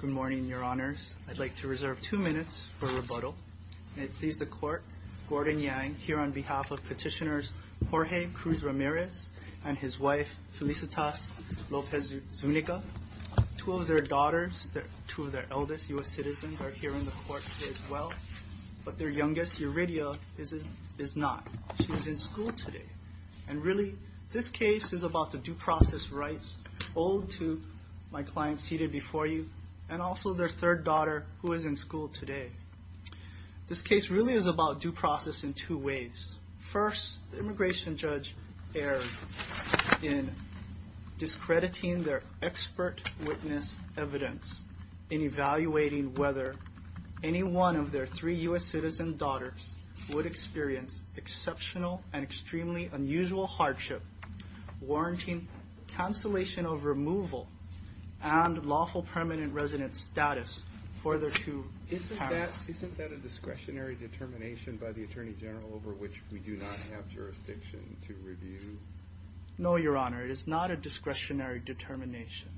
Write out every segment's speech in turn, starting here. Good morning, your honors. I'd like to reserve two minutes for rebuttal. May it please the court, Gordon Yang here on behalf of petitioners Jorge Cruz Ramirez and his wife Felicitas Lopez Zuniga. Two of their daughters, two of their eldest US citizens are here in the court as well, but their youngest, Eurydia, is not. She's in school today and really this case is about the due process rights owed to my client seated before you and also their third daughter who is in school today. This case really is about due process in two ways. First, the immigration judge erred in discrediting their expert witness evidence in evaluating whether any one of their three US citizen daughters would experience exceptional and extremely unusual hardship warranting cancellation of removal and lawful permanent resident status for their two parents. Isn't that a discretionary determination by the Attorney General over which we do not have jurisdiction to review? No, your honor, it is not a discretionary determination.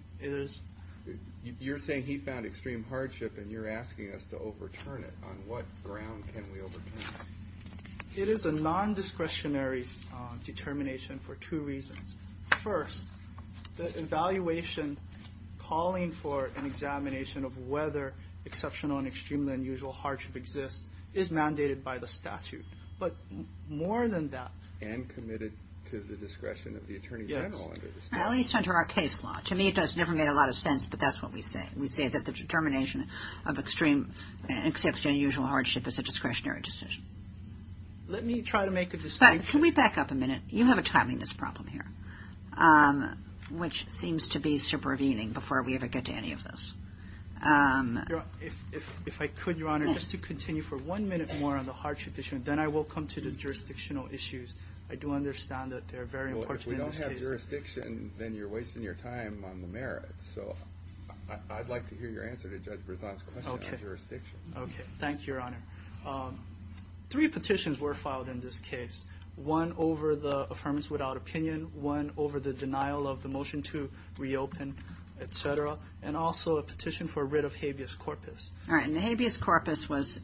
You're saying he found extreme hardship and you're asking us to overturn it. On what ground can we overturn it? It is a evaluation calling for an examination of whether exceptional and extremely unusual hardship exists is mandated by the statute, but more than that. And committed to the discretion of the Attorney General. Yes, at least under our case law. To me it does never make a lot of sense, but that's what we say. We say that the determination of extreme exceptional and unusual hardship is a discretionary decision. Let me try to make a distinction. Can we back up a minute? You have a problem here, which seems to be supervening before we ever get to any of this. If I could, your honor, just to continue for one minute more on the hardship issue, then I will come to the jurisdictional issues. I do understand that they're very important. If we don't have jurisdiction, then you're wasting your time on the merits. So I'd like to hear your answer to Judge Brisson's question on jurisdiction. Okay, thank you, your honor. Three petitions were filed in this case. One over the opinion, one over the denial of the motion to reopen, etc. And also a petition for writ of habeas corpus. All right, and the habeas corpus was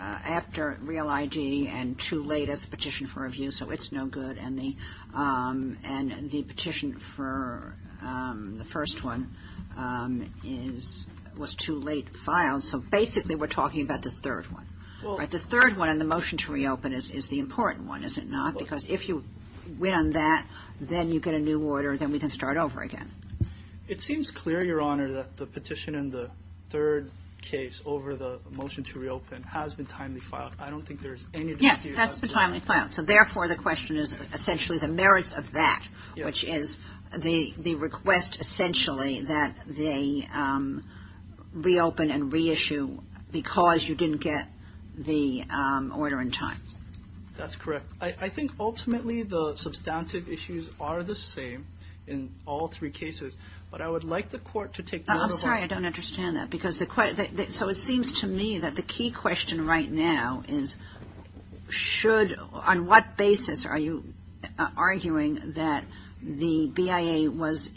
after Real ID and too late as a petition for review, so it's no good. And the and the petition for the first one was too late filed, so basically we're talking about the third one. The third one and the motion to reopen is the important one, is it not? Because if you win on that, then you get a new order, then we can start over again. It seems clear, your honor, that the petition in the third case over the motion to reopen has been timely filed. I don't think there's any... Yes, that's the timely file. So therefore, the question is essentially the merits of that, which is the the request essentially that they reopen and reissue because you didn't get the order in time. That's correct. I think ultimately the substantive issues are the same in all three cases, but I would like the court to take... I'm sorry, I don't understand that because the question, so it seems to me that the key question right now is should, on what basis are you arguing that the BIA was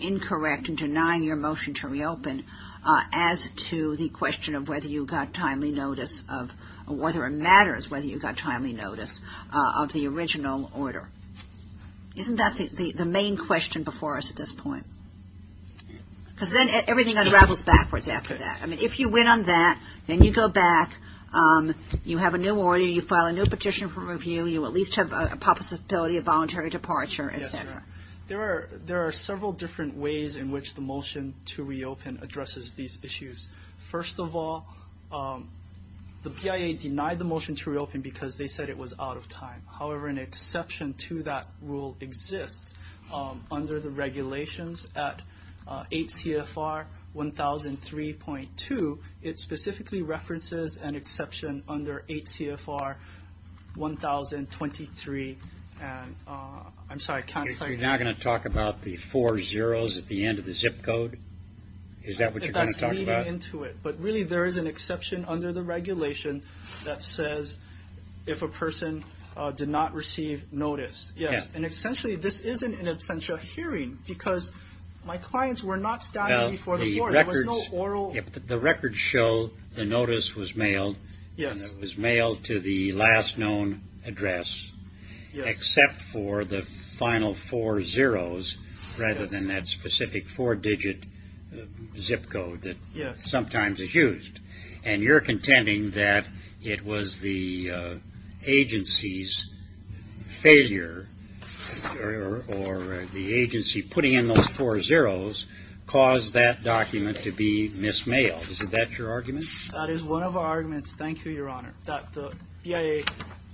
incorrect in denying your motion to reopen as to the question of whether you got timely notice of whether it matters whether you got timely notice of the original order? Isn't that the the main question before us at this point? Because then everything unravels backwards after that. I mean, if you win on that, then you go back, you have a new order, you file a new petition for review, you at least have a possibility of voluntary departure, etc. There are several different ways in which the motion to reopen addresses these issues. First of all, the BIA denied the motion to reopen because they said it was out of time. However, an exception to that rule exists under the regulations at 8 CFR 1003.2. It specifically references an exception under 8 CFR 1023. I'm sorry, I can't... You're not going to talk about the four zeros at the end of the zip code? Is that what you're going to talk about? That's leading into it, but really there is an exception under the regulation that says if a person did not receive notice. Yes, and essentially this isn't an absentia hearing because my clients were not standing before the court, there was no oral... The records show the notice was mailed. Yes. It was mailed to the last known address except for the final four zeros rather than that specific four-digit zip code that sometimes is used, and you're contending that it was the agency's failure or the agency putting in those four zeros caused that document to be mis-mailed. Is that your argument? That is one of our arguments, thank you, Your Honor, that the BIA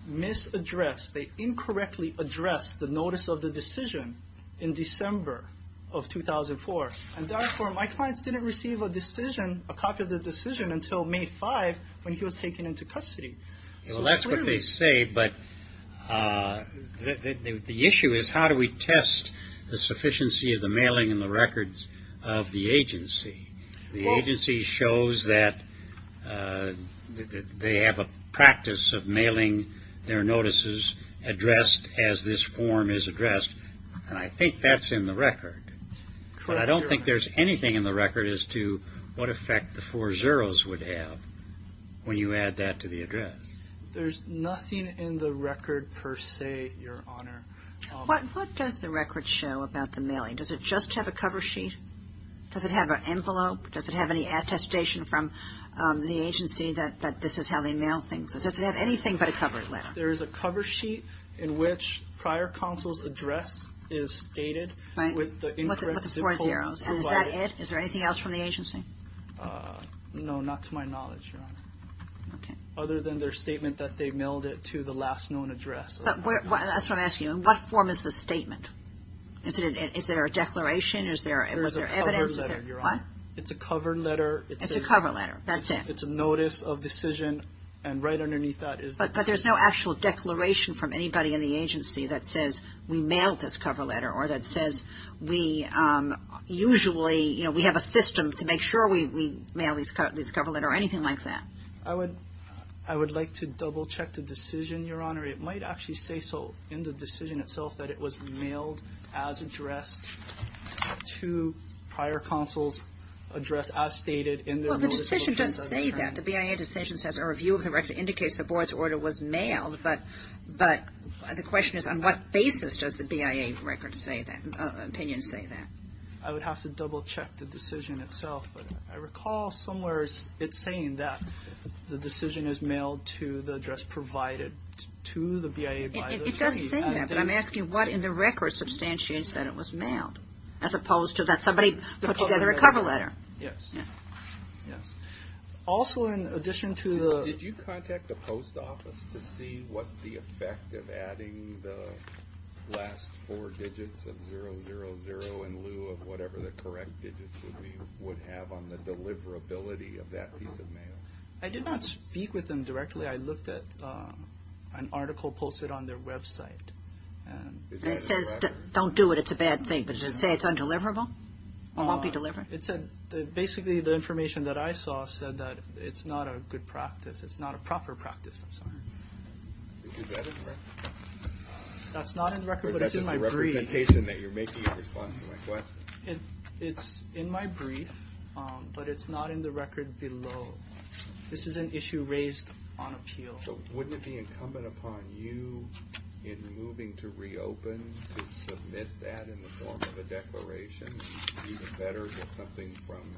mis-addressed, they incorrectly addressed the notice of the decision until May 5 when he was taken into custody. Well, that's what they say, but the issue is how do we test the sufficiency of the mailing and the records of the agency? The agency shows that they have a practice of mailing their notices addressed as this form is addressed, and I think that's in the effect the four zeros would have when you add that to the address. There's nothing in the record per se, Your Honor. What does the record show about the mailing? Does it just have a cover sheet? Does it have an envelope? Does it have any attestation from the agency that this is how they mail things? Does it have anything but a cover letter? There is a cover sheet in which prior counsel's address is stated with the incorrect zip code provided. And is that it? Is there anything else from the agency? No, not to my knowledge, Your Honor, other than their statement that they mailed it to the last known address. That's what I'm asking, in what form is the statement? Is there a declaration? Is there evidence? There's a cover letter, Your Honor. It's a cover letter. It's a cover letter, that's it. It's a notice of decision and right underneath that is the... But there's no actual declaration from anybody in the agency that they mailed this cover letter or that says we usually, you know, we have a system to make sure we mail this cover letter or anything like that. I would like to double check the decision, Your Honor. It might actually say so in the decision itself that it was mailed as addressed to prior counsel's address as stated in their notice of... Well, the decision doesn't say that. The BIA decision says a review of the record indicates the board's order was mailed, but the question is on what basis does the BIA record say that, opinion say that? I would have to double check the decision itself, but I recall somewhere it's saying that the decision is mailed to the address provided to the BIA by the... It does say that, but I'm asking what in the record substantiates that it was mailed as opposed to that somebody put together a cover letter. Yes. Yes. Also in addition to the... Did you contact the post office to see what the effect of adding the last four digits of 000 in lieu of whatever the correct digits would be would have on the deliverability of that piece of mail? I did not speak with them directly. I looked at an article posted on their website. It says don't do it. It's a bad thing, but does it say it's undeliverable or won't be delivered? It said basically the information that I saw said that it's not a good practice. It's not a proper practice. I'm sorry. Is that in the record? That's not in the record, but it's in my brief. But that's a representation that you're making in response to my question. It's in my brief, but it's not in the record below. This is an issue raised on appeal. So wouldn't it be incumbent upon you in moving to reopen to submit that in the form of a declaration? It would be even better to get something from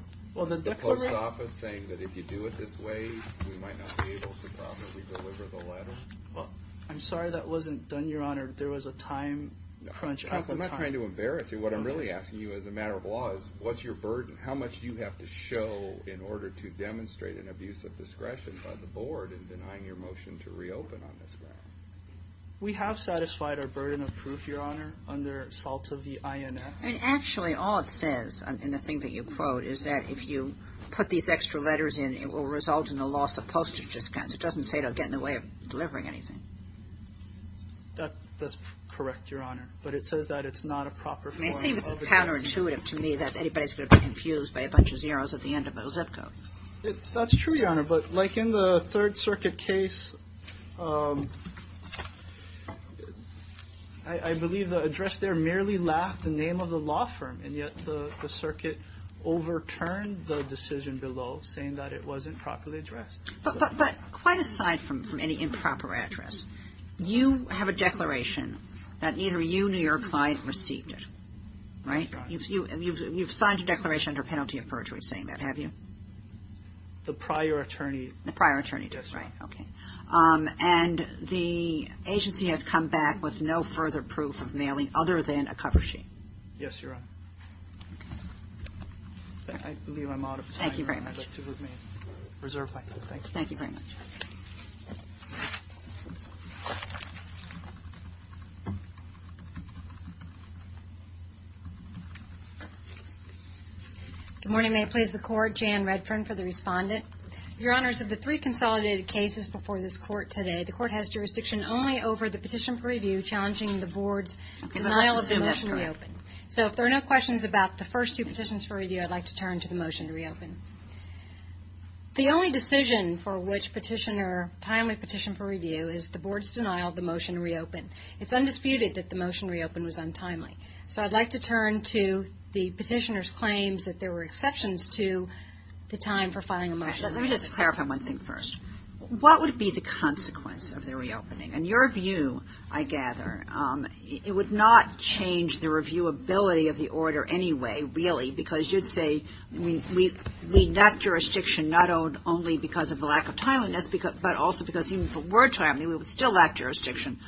the post office saying that if you do it this way, we might not be able to properly deliver the letter. I'm sorry. That wasn't done, Your Honor. There was a time crunch at the time. I'm trying to embarrass you. What I'm really asking you as a matter of law is what's your burden? How much do you have to show in order to demonstrate an abuse of discretion by the board in denying your motion to reopen on this matter? We have satisfied our burden of proof, Your Honor, under SALT of the INS. Actually, all it says in the thing that you quote is that if you put these extra letters in, it will result in a loss of postage expense. It doesn't say it will get in the way of delivering anything. That's correct, Your Honor, but it says that it's not a proper form of address. It seems counterintuitive to me that anybody's going to be confused by a bunch of zeros at the end of a zip code. That's true, Your Honor, but like in the Third Circuit case, I believe the address there merely left the name of the law firm, and yet the circuit overturned the decision below saying that it wasn't properly addressed. But quite aside from any improper address, you have a declaration that neither you nor your client received it, right? You've signed a declaration under penalty of perjury saying that, have you? The prior attorney. The prior attorney, right. Yes, Your Honor. And the agency has come back with no further proof of mailing other than a cover sheet. Yes, Your Honor. I believe I'm out of time. Thank you very much. And I'd like to reserve my time. Thank you. Thank you very much. Good morning. May it please the Court? Jan Redfern for the Respondent. Your Honors, of the three consolidated cases before this Court today, the Court has jurisdiction only over the petition for review challenging the Board's denial of the motion to reopen. So if there are no questions about the first two petitions for review, I'd like to turn to the motion to reopen. The only decision for which petition or timely petition for review is the Board's denial of the motion to reopen. It's undisputed that the motion to reopen was untimely. So I'd like to turn to the petitioner's claims that there were exceptions to the time for filing a motion. Let me just clarify one thing first. What would be the consequence of the reopening? In your view, I gather, it would not change the reviewability of the order anyway, really, because you'd say we lack jurisdiction not only because of the lack of timeliness, but also because even if it were timely, we would still lack jurisdiction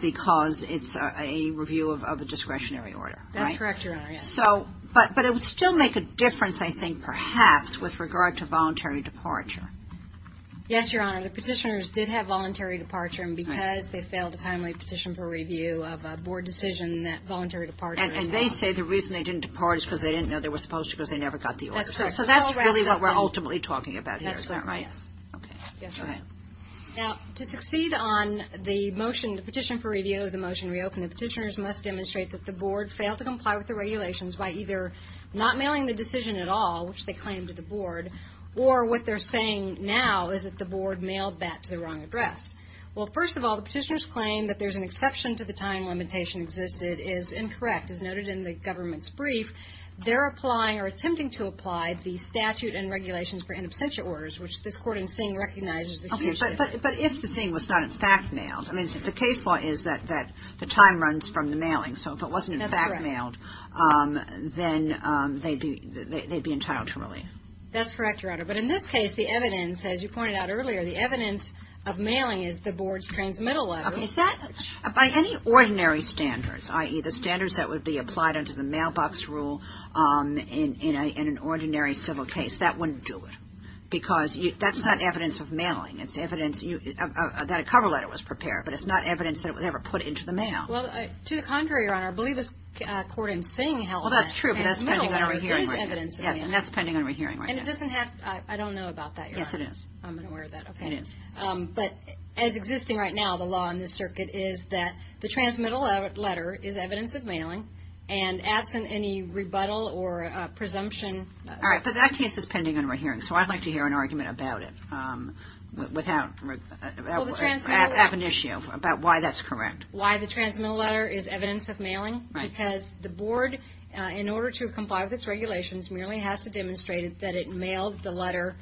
because it's a review of a discretionary order. That's correct, Your Honor, yes. But it would still make a difference, I think, perhaps, with regard to voluntary departure. Yes, Your Honor. The petitioners did have voluntary departure, and because they failed a timely petition for review of a Board decision, that voluntary departure is false. And they say the reason they didn't depart is because they didn't know they were supposed to because they never got the order. That's correct. So that's really what we're ultimately talking about here, is that right? That's right, yes. Okay. Yes, Your Honor. Now, to succeed on the motion to petition for review of the motion to reopen, the petitioners must demonstrate that the Board failed to comply with the regulations by either not mailing the decision at all, which they claim to the Board, or what they're saying now is that the Board mailed that to the wrong address. Well, first of all, the petitioners claim that there's an exception to the time limitation existed is incorrect, as noted in the government's brief. They're applying or attempting to apply the statute and regulations for in absentia orders, which this court in seeing recognizes the huge difference. But if the thing was not, in fact, mailed, I mean, the case law is that the time runs from the mailing, so if it wasn't, in fact, mailed, then they'd be entitled to relief. That's correct, Your Honor. But in this case, the evidence, as you pointed out earlier, the evidence of mailing is the Board's transmittal letter. Okay. By any ordinary standards, i.e., the standards that would be applied under the mailbox rule in an ordinary civil case, that wouldn't do it because that's not evidence of mailing. It's evidence that a cover letter was prepared, but it's not evidence that it was ever put into the mail. Well, to the contrary, Your Honor. I believe this court in seeing held that the transmittal letter is evidence of mailing. Well, that's true, but that's pending on re-hearing. Yes, and that's pending on re-hearing right now. And it doesn't have, I don't know about that, Your Honor. Yes, it is. I'm unaware of that. It is. But as existing right now, the law in this circuit is that the transmittal letter is evidence of mailing, and absent any rebuttal or presumption. All right, but that case is pending on re-hearing, so I'd like to hear an argument about it without, have an issue about why that's correct. Why the transmittal letter is evidence of mailing? Right. Because the board, in order to comply with its regulations, merely has to demonstrate that it mailed the letter,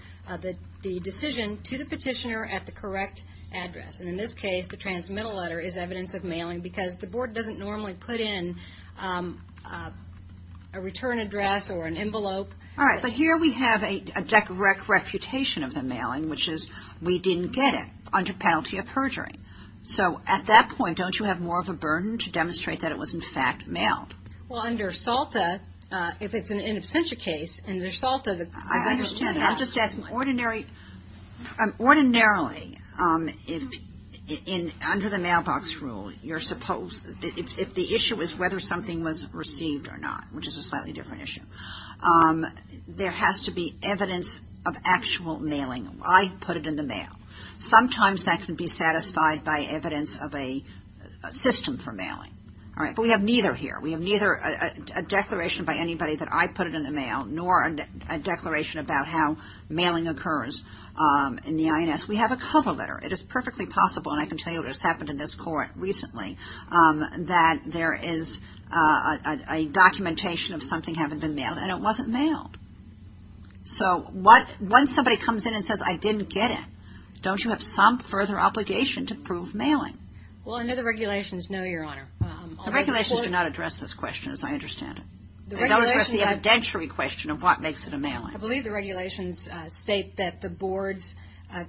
the decision to the petitioner at the correct address. And in this case, the transmittal letter is evidence of mailing because the board doesn't normally put in a return address or an envelope. All right, but here we have a direct refutation of the mailing, which is we didn't get it under penalty of perjury. So at that point, don't you have more of a burden to demonstrate that it was, in fact, mailed? Well, under SALTA, if it's an in absentia case, under SALTA, the government has to. I understand that. I'm just asking, ordinarily, under the mailbox rule, if the issue is whether something was received or not, which is a slightly different issue, there has to be evidence of actual mailing. I put it in the mail. Sometimes that can be satisfied by evidence of a system for mailing. All right. But we have neither here. We have neither a declaration by anybody that I put it in the mail nor a declaration about how mailing occurs in the INS. We have a cover letter. It is perfectly possible, and I can tell you what has happened in this court recently, that there is a documentation of something having been mailed, and it wasn't mailed. So once somebody comes in and says, I didn't get it, don't you have some further obligation to prove mailing? Well, under the regulations, no, Your Honor. The regulations do not address this question, as I understand it. They don't address the evidentiary question of what makes it a mailing. I believe the regulations state that the board's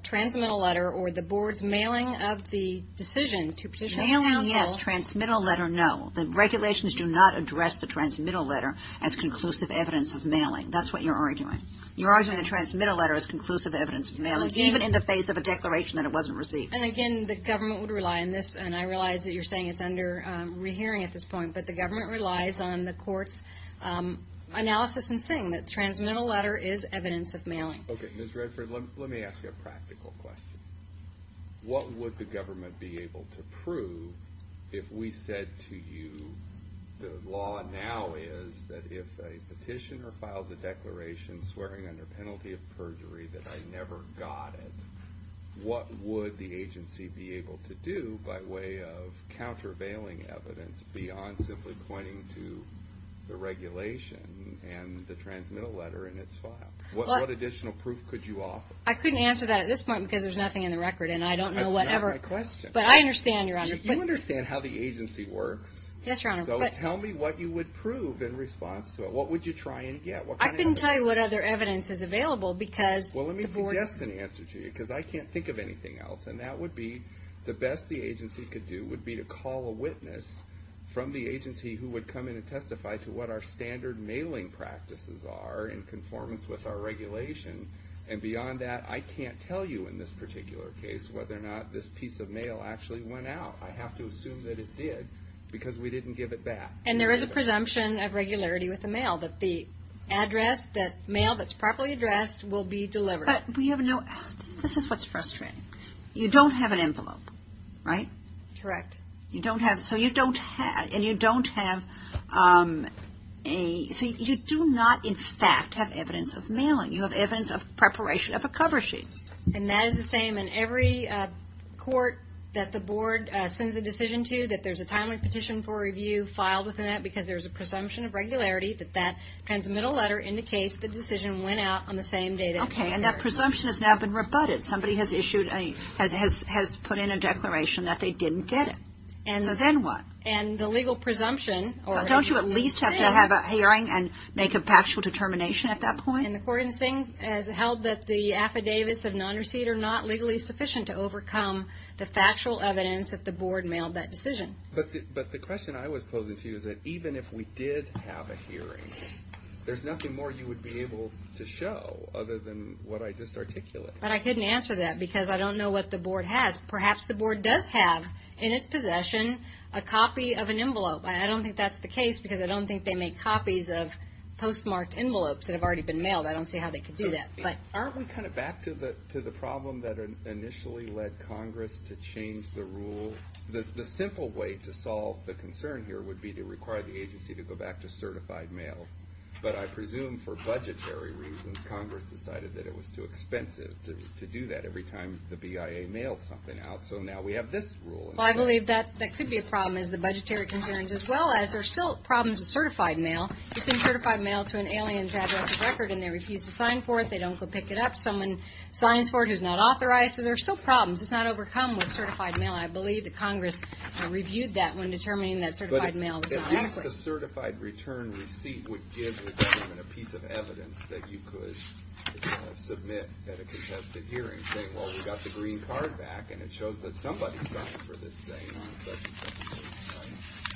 transmittal letter or the board's mailing of the decision to petition counsel Mailing, yes. Transmittal letter, no. The regulations do not address the transmittal letter as conclusive evidence of mailing. That's what you're arguing. You're arguing the transmittal letter is conclusive evidence of mailing, even in the face of a declaration that it wasn't received. And again, the government would rely on this, and I realize that you're saying it's under rehearing at this point, but the government relies on the court's analysis in saying that the transmittal letter is evidence of mailing. Okay. Ms. Redford, let me ask you a practical question. What would the government be able to prove if we said to you the law now is that if a petitioner files a declaration swearing under penalty of perjury that I never got it, what would the agency be able to do by way of countervailing evidence beyond simply pointing to the regulation and the transmittal letter in its file? What additional proof could you offer? I couldn't answer that at this point because there's nothing in the record, and I don't know whatever. That's not my question. But I understand, Your Honor. You understand how the agency works. Yes, Your Honor. So tell me what you would prove in response to it. What would you try and get? I couldn't tell you what other evidence is available because the board. Well, let me suggest an answer to you because I can't think of anything else, and that would be the best the agency could do would be to call a witness from the agency who would come in and testify to what our standard mailing practices are in conformance with our regulation. And beyond that, I can't tell you in this particular case whether or not this piece of mail actually went out. I have to assume that it did because we didn't give it back. And there is a presumption of regularity with the mail that the address, that mail that's properly addressed will be delivered. But we have no – this is what's frustrating. You don't have an envelope, right? Correct. You don't have – so you don't have – and you don't have a – so you do not in fact have evidence of mailing. You have evidence of preparation of a cover sheet. And that is the same in every court that the board sends a decision to, that there's a timely petition for review filed within that because there's a presumption of regularity that that transmittal letter indicates the decision went out on the same day that it occurred. Okay, and that presumption has now been rebutted. Somebody has issued a – has put in a declaration that they didn't get it. So then what? And the legal presumption – Don't you at least have to have a hearing and make a factual determination at that point? And the court has held that the affidavits of non-receipt are not legally sufficient to overcome the factual evidence that the board mailed that decision. But the question I was posing to you is that even if we did have a hearing, there's nothing more you would be able to show other than what I just articulated. But I couldn't answer that because I don't know what the board has. Perhaps the board does have in its possession a copy of an envelope. I don't think that's the case because I don't think they make copies of postmarked envelopes that have already been mailed. I don't see how they could do that. Aren't we kind of back to the problem that initially led Congress to change the rule? The simple way to solve the concern here would be to require the agency to go back to certified mail. But I presume for budgetary reasons, Congress decided that it was too expensive to do that every time the BIA mailed something out. So now we have this rule. Well, I believe that could be a problem is the budgetary concerns as well as there are still problems with certified mail. If you send certified mail to an alien's address or record and they refuse to sign for it, they don't go pick it up. Someone signs for it who's not authorized. So there are still problems. It's not overcome with certified mail. I believe that Congress reviewed that when determining that certified mail was inadequate. But at least a certified return receipt would give the government a piece of evidence that you could submit at a contested hearing saying, well, we got the green card back and it shows that somebody signed for this thing.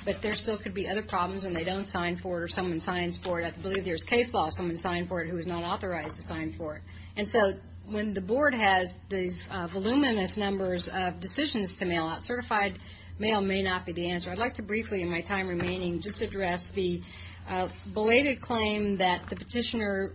But there still could be other problems when they don't sign for it and someone signs for it. I believe there's case law. Someone signed for it who is not authorized to sign for it. And so when the Board has these voluminous numbers of decisions to mail out, certified mail may not be the answer. I'd like to briefly in my time remaining just address the belated claim that the petitioner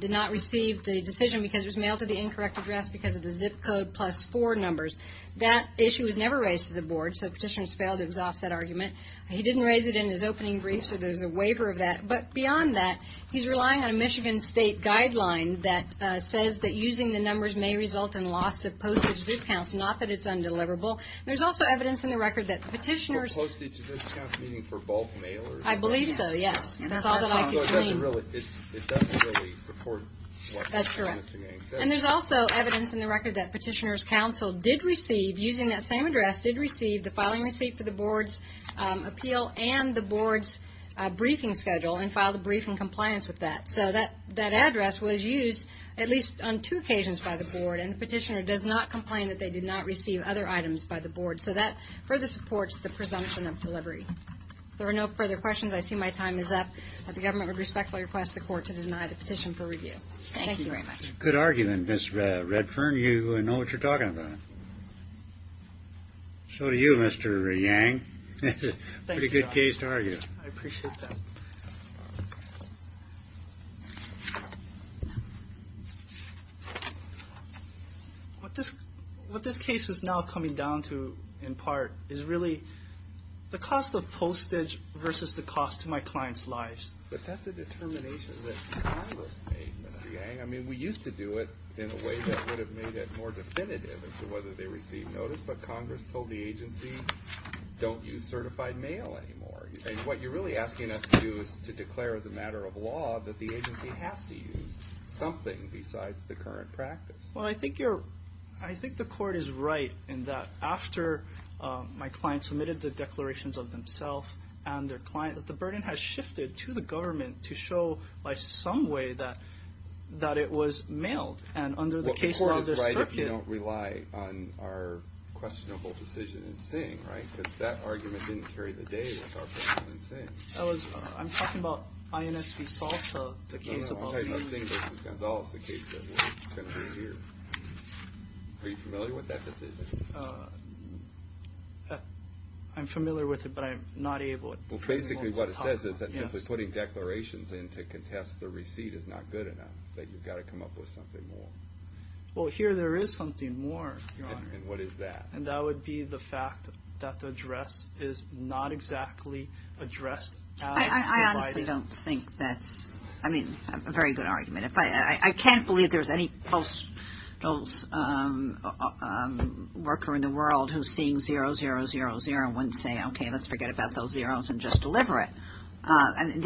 did not receive the decision because it was mailed to the incorrect address because of the zip code plus four numbers. That issue was never raised to the Board, so the petitioner has failed to exhaust that argument. He didn't raise it in his opening brief, so there's a waiver of that. But beyond that, he's relying on a Michigan State guideline that says that using the numbers may result in loss of postage discounts, not that it's undeliverable. There's also evidence in the record that the petitioner's – For postage discounts, meaning for bulk mail? I believe so, yes. That's all that I could claim. It doesn't really report what the petitioner's name says. That's correct. And there's also evidence in the record that petitioner's counsel did receive, using that same address, did receive the filing receipt for the Board's appeal and the Board's briefing schedule and filed a briefing compliance with that. So that address was used at least on two occasions by the Board, and the petitioner does not complain that they did not receive other items by the Board. So that further supports the presumption of delivery. If there are no further questions, I see my time is up. The government would respectfully request the court to deny the petition for review. Thank you very much. Good argument, Ms. Redfern. You know what you're talking about. So do you, Mr. Yang. Thank you, John. Pretty good case to argue. I appreciate that. What this case is now coming down to, in part, is really the cost of postage versus the cost to my client's lives. But that's a determination that Congress made, Mr. Yang. I mean, we used to do it in a way that would have made it more definitive as to whether they received notice, but Congress told the agency don't use certified mail anymore. And what you're really asking us to do is to declare as a matter of law that the agency has to use something besides the current practice. Well, I think the court is right in that after my client submitted the declarations of themself and their client, the burden has shifted to the government to show by some way that it was mailed. And under the case of the circuit. Well, the court is right if you don't rely on our questionable decision in Singh, right? Because that argument didn't carry the day with our decision in Singh. I'm talking about INS V. Salta, the case above. No, no, I'm talking about Singh v. Gonzales, the case that was going to be reviewed. Are you familiar with that decision? I'm familiar with it, but I'm not able. Well, basically what it says is that simply putting declarations in to contest the receipt is not good enough, that you've got to come up with something more. Well, here there is something more, Your Honor. And what is that? And that would be the fact that the address is not exactly addressed as provided. I honestly don't think that's, I mean, a very good argument. I can't believe there's any postal worker in the world who's seeing 0000 and wouldn't say, okay, let's forget about those zeros and just deliver it. And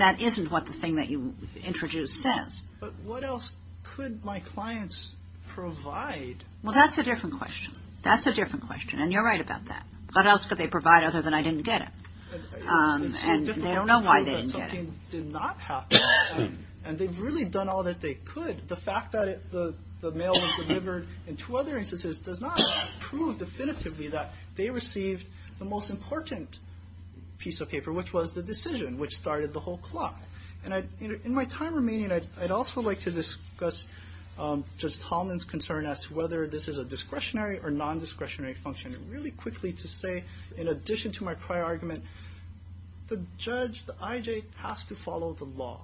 that isn't what the thing that you introduced says. But what else could my clients provide? Well, that's a different question. That's a different question, and you're right about that. What else could they provide other than I didn't get it? And they don't know why they didn't get it. And they've really done all that they could. And the fact that the mail was delivered in two other instances does not prove definitively that they received the most important piece of paper, which was the decision, which started the whole clock. And in my time remaining, I'd also like to discuss Judge Tallman's concern as to whether this is a discretionary or nondiscretionary function. And really quickly to say, in addition to my prior argument, the judge, the IJ, has to follow the law.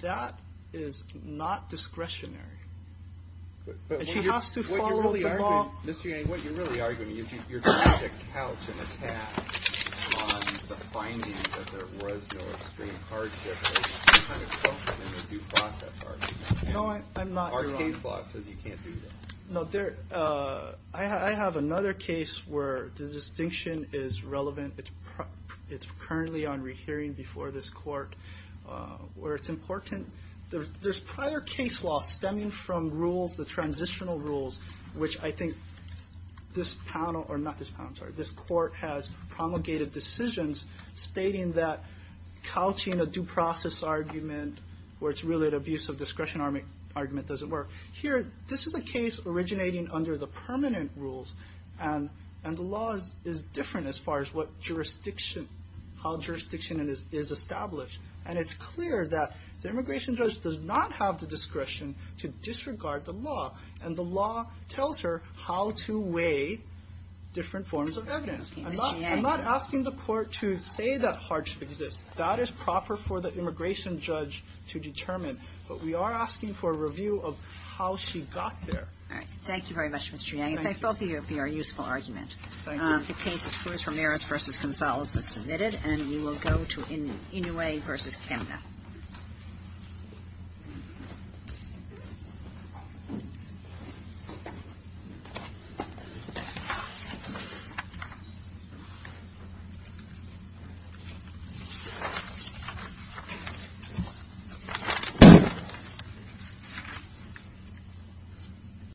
That is not discretionary. And she has to follow the law. Mr. Yang, what you're really arguing is you're trying to couch an attack on the finding that there was no extreme hardship in the due process argument. No, I'm not. Our case law says you can't do that. No, I have another case where the distinction is relevant. It's currently on rehearing before this court. Where it's important, there's prior case law stemming from rules, the transitional rules, which I think this panel, or not this panel, sorry, this court has promulgated decisions stating that couching a due process argument where it's really an abuse of discretion argument doesn't work. Here, this is a case originating under the permanent rules. And the law is different as far as what jurisdiction, how jurisdiction is established. And it's clear that the immigration judge does not have the discretion to disregard the law, and the law tells her how to weigh different forms of evidence. I'm not asking the Court to say that hardship exists. That is proper for the immigration judge to determine. But we are asking for a review of how she got there. All right. Thank you very much, Mr. Yang. In fact, both of you would be our useful argument. The case of Cruz-Ramirez v. Gonzalez is submitted, and we will go to Inouye v. Canada. Thank you.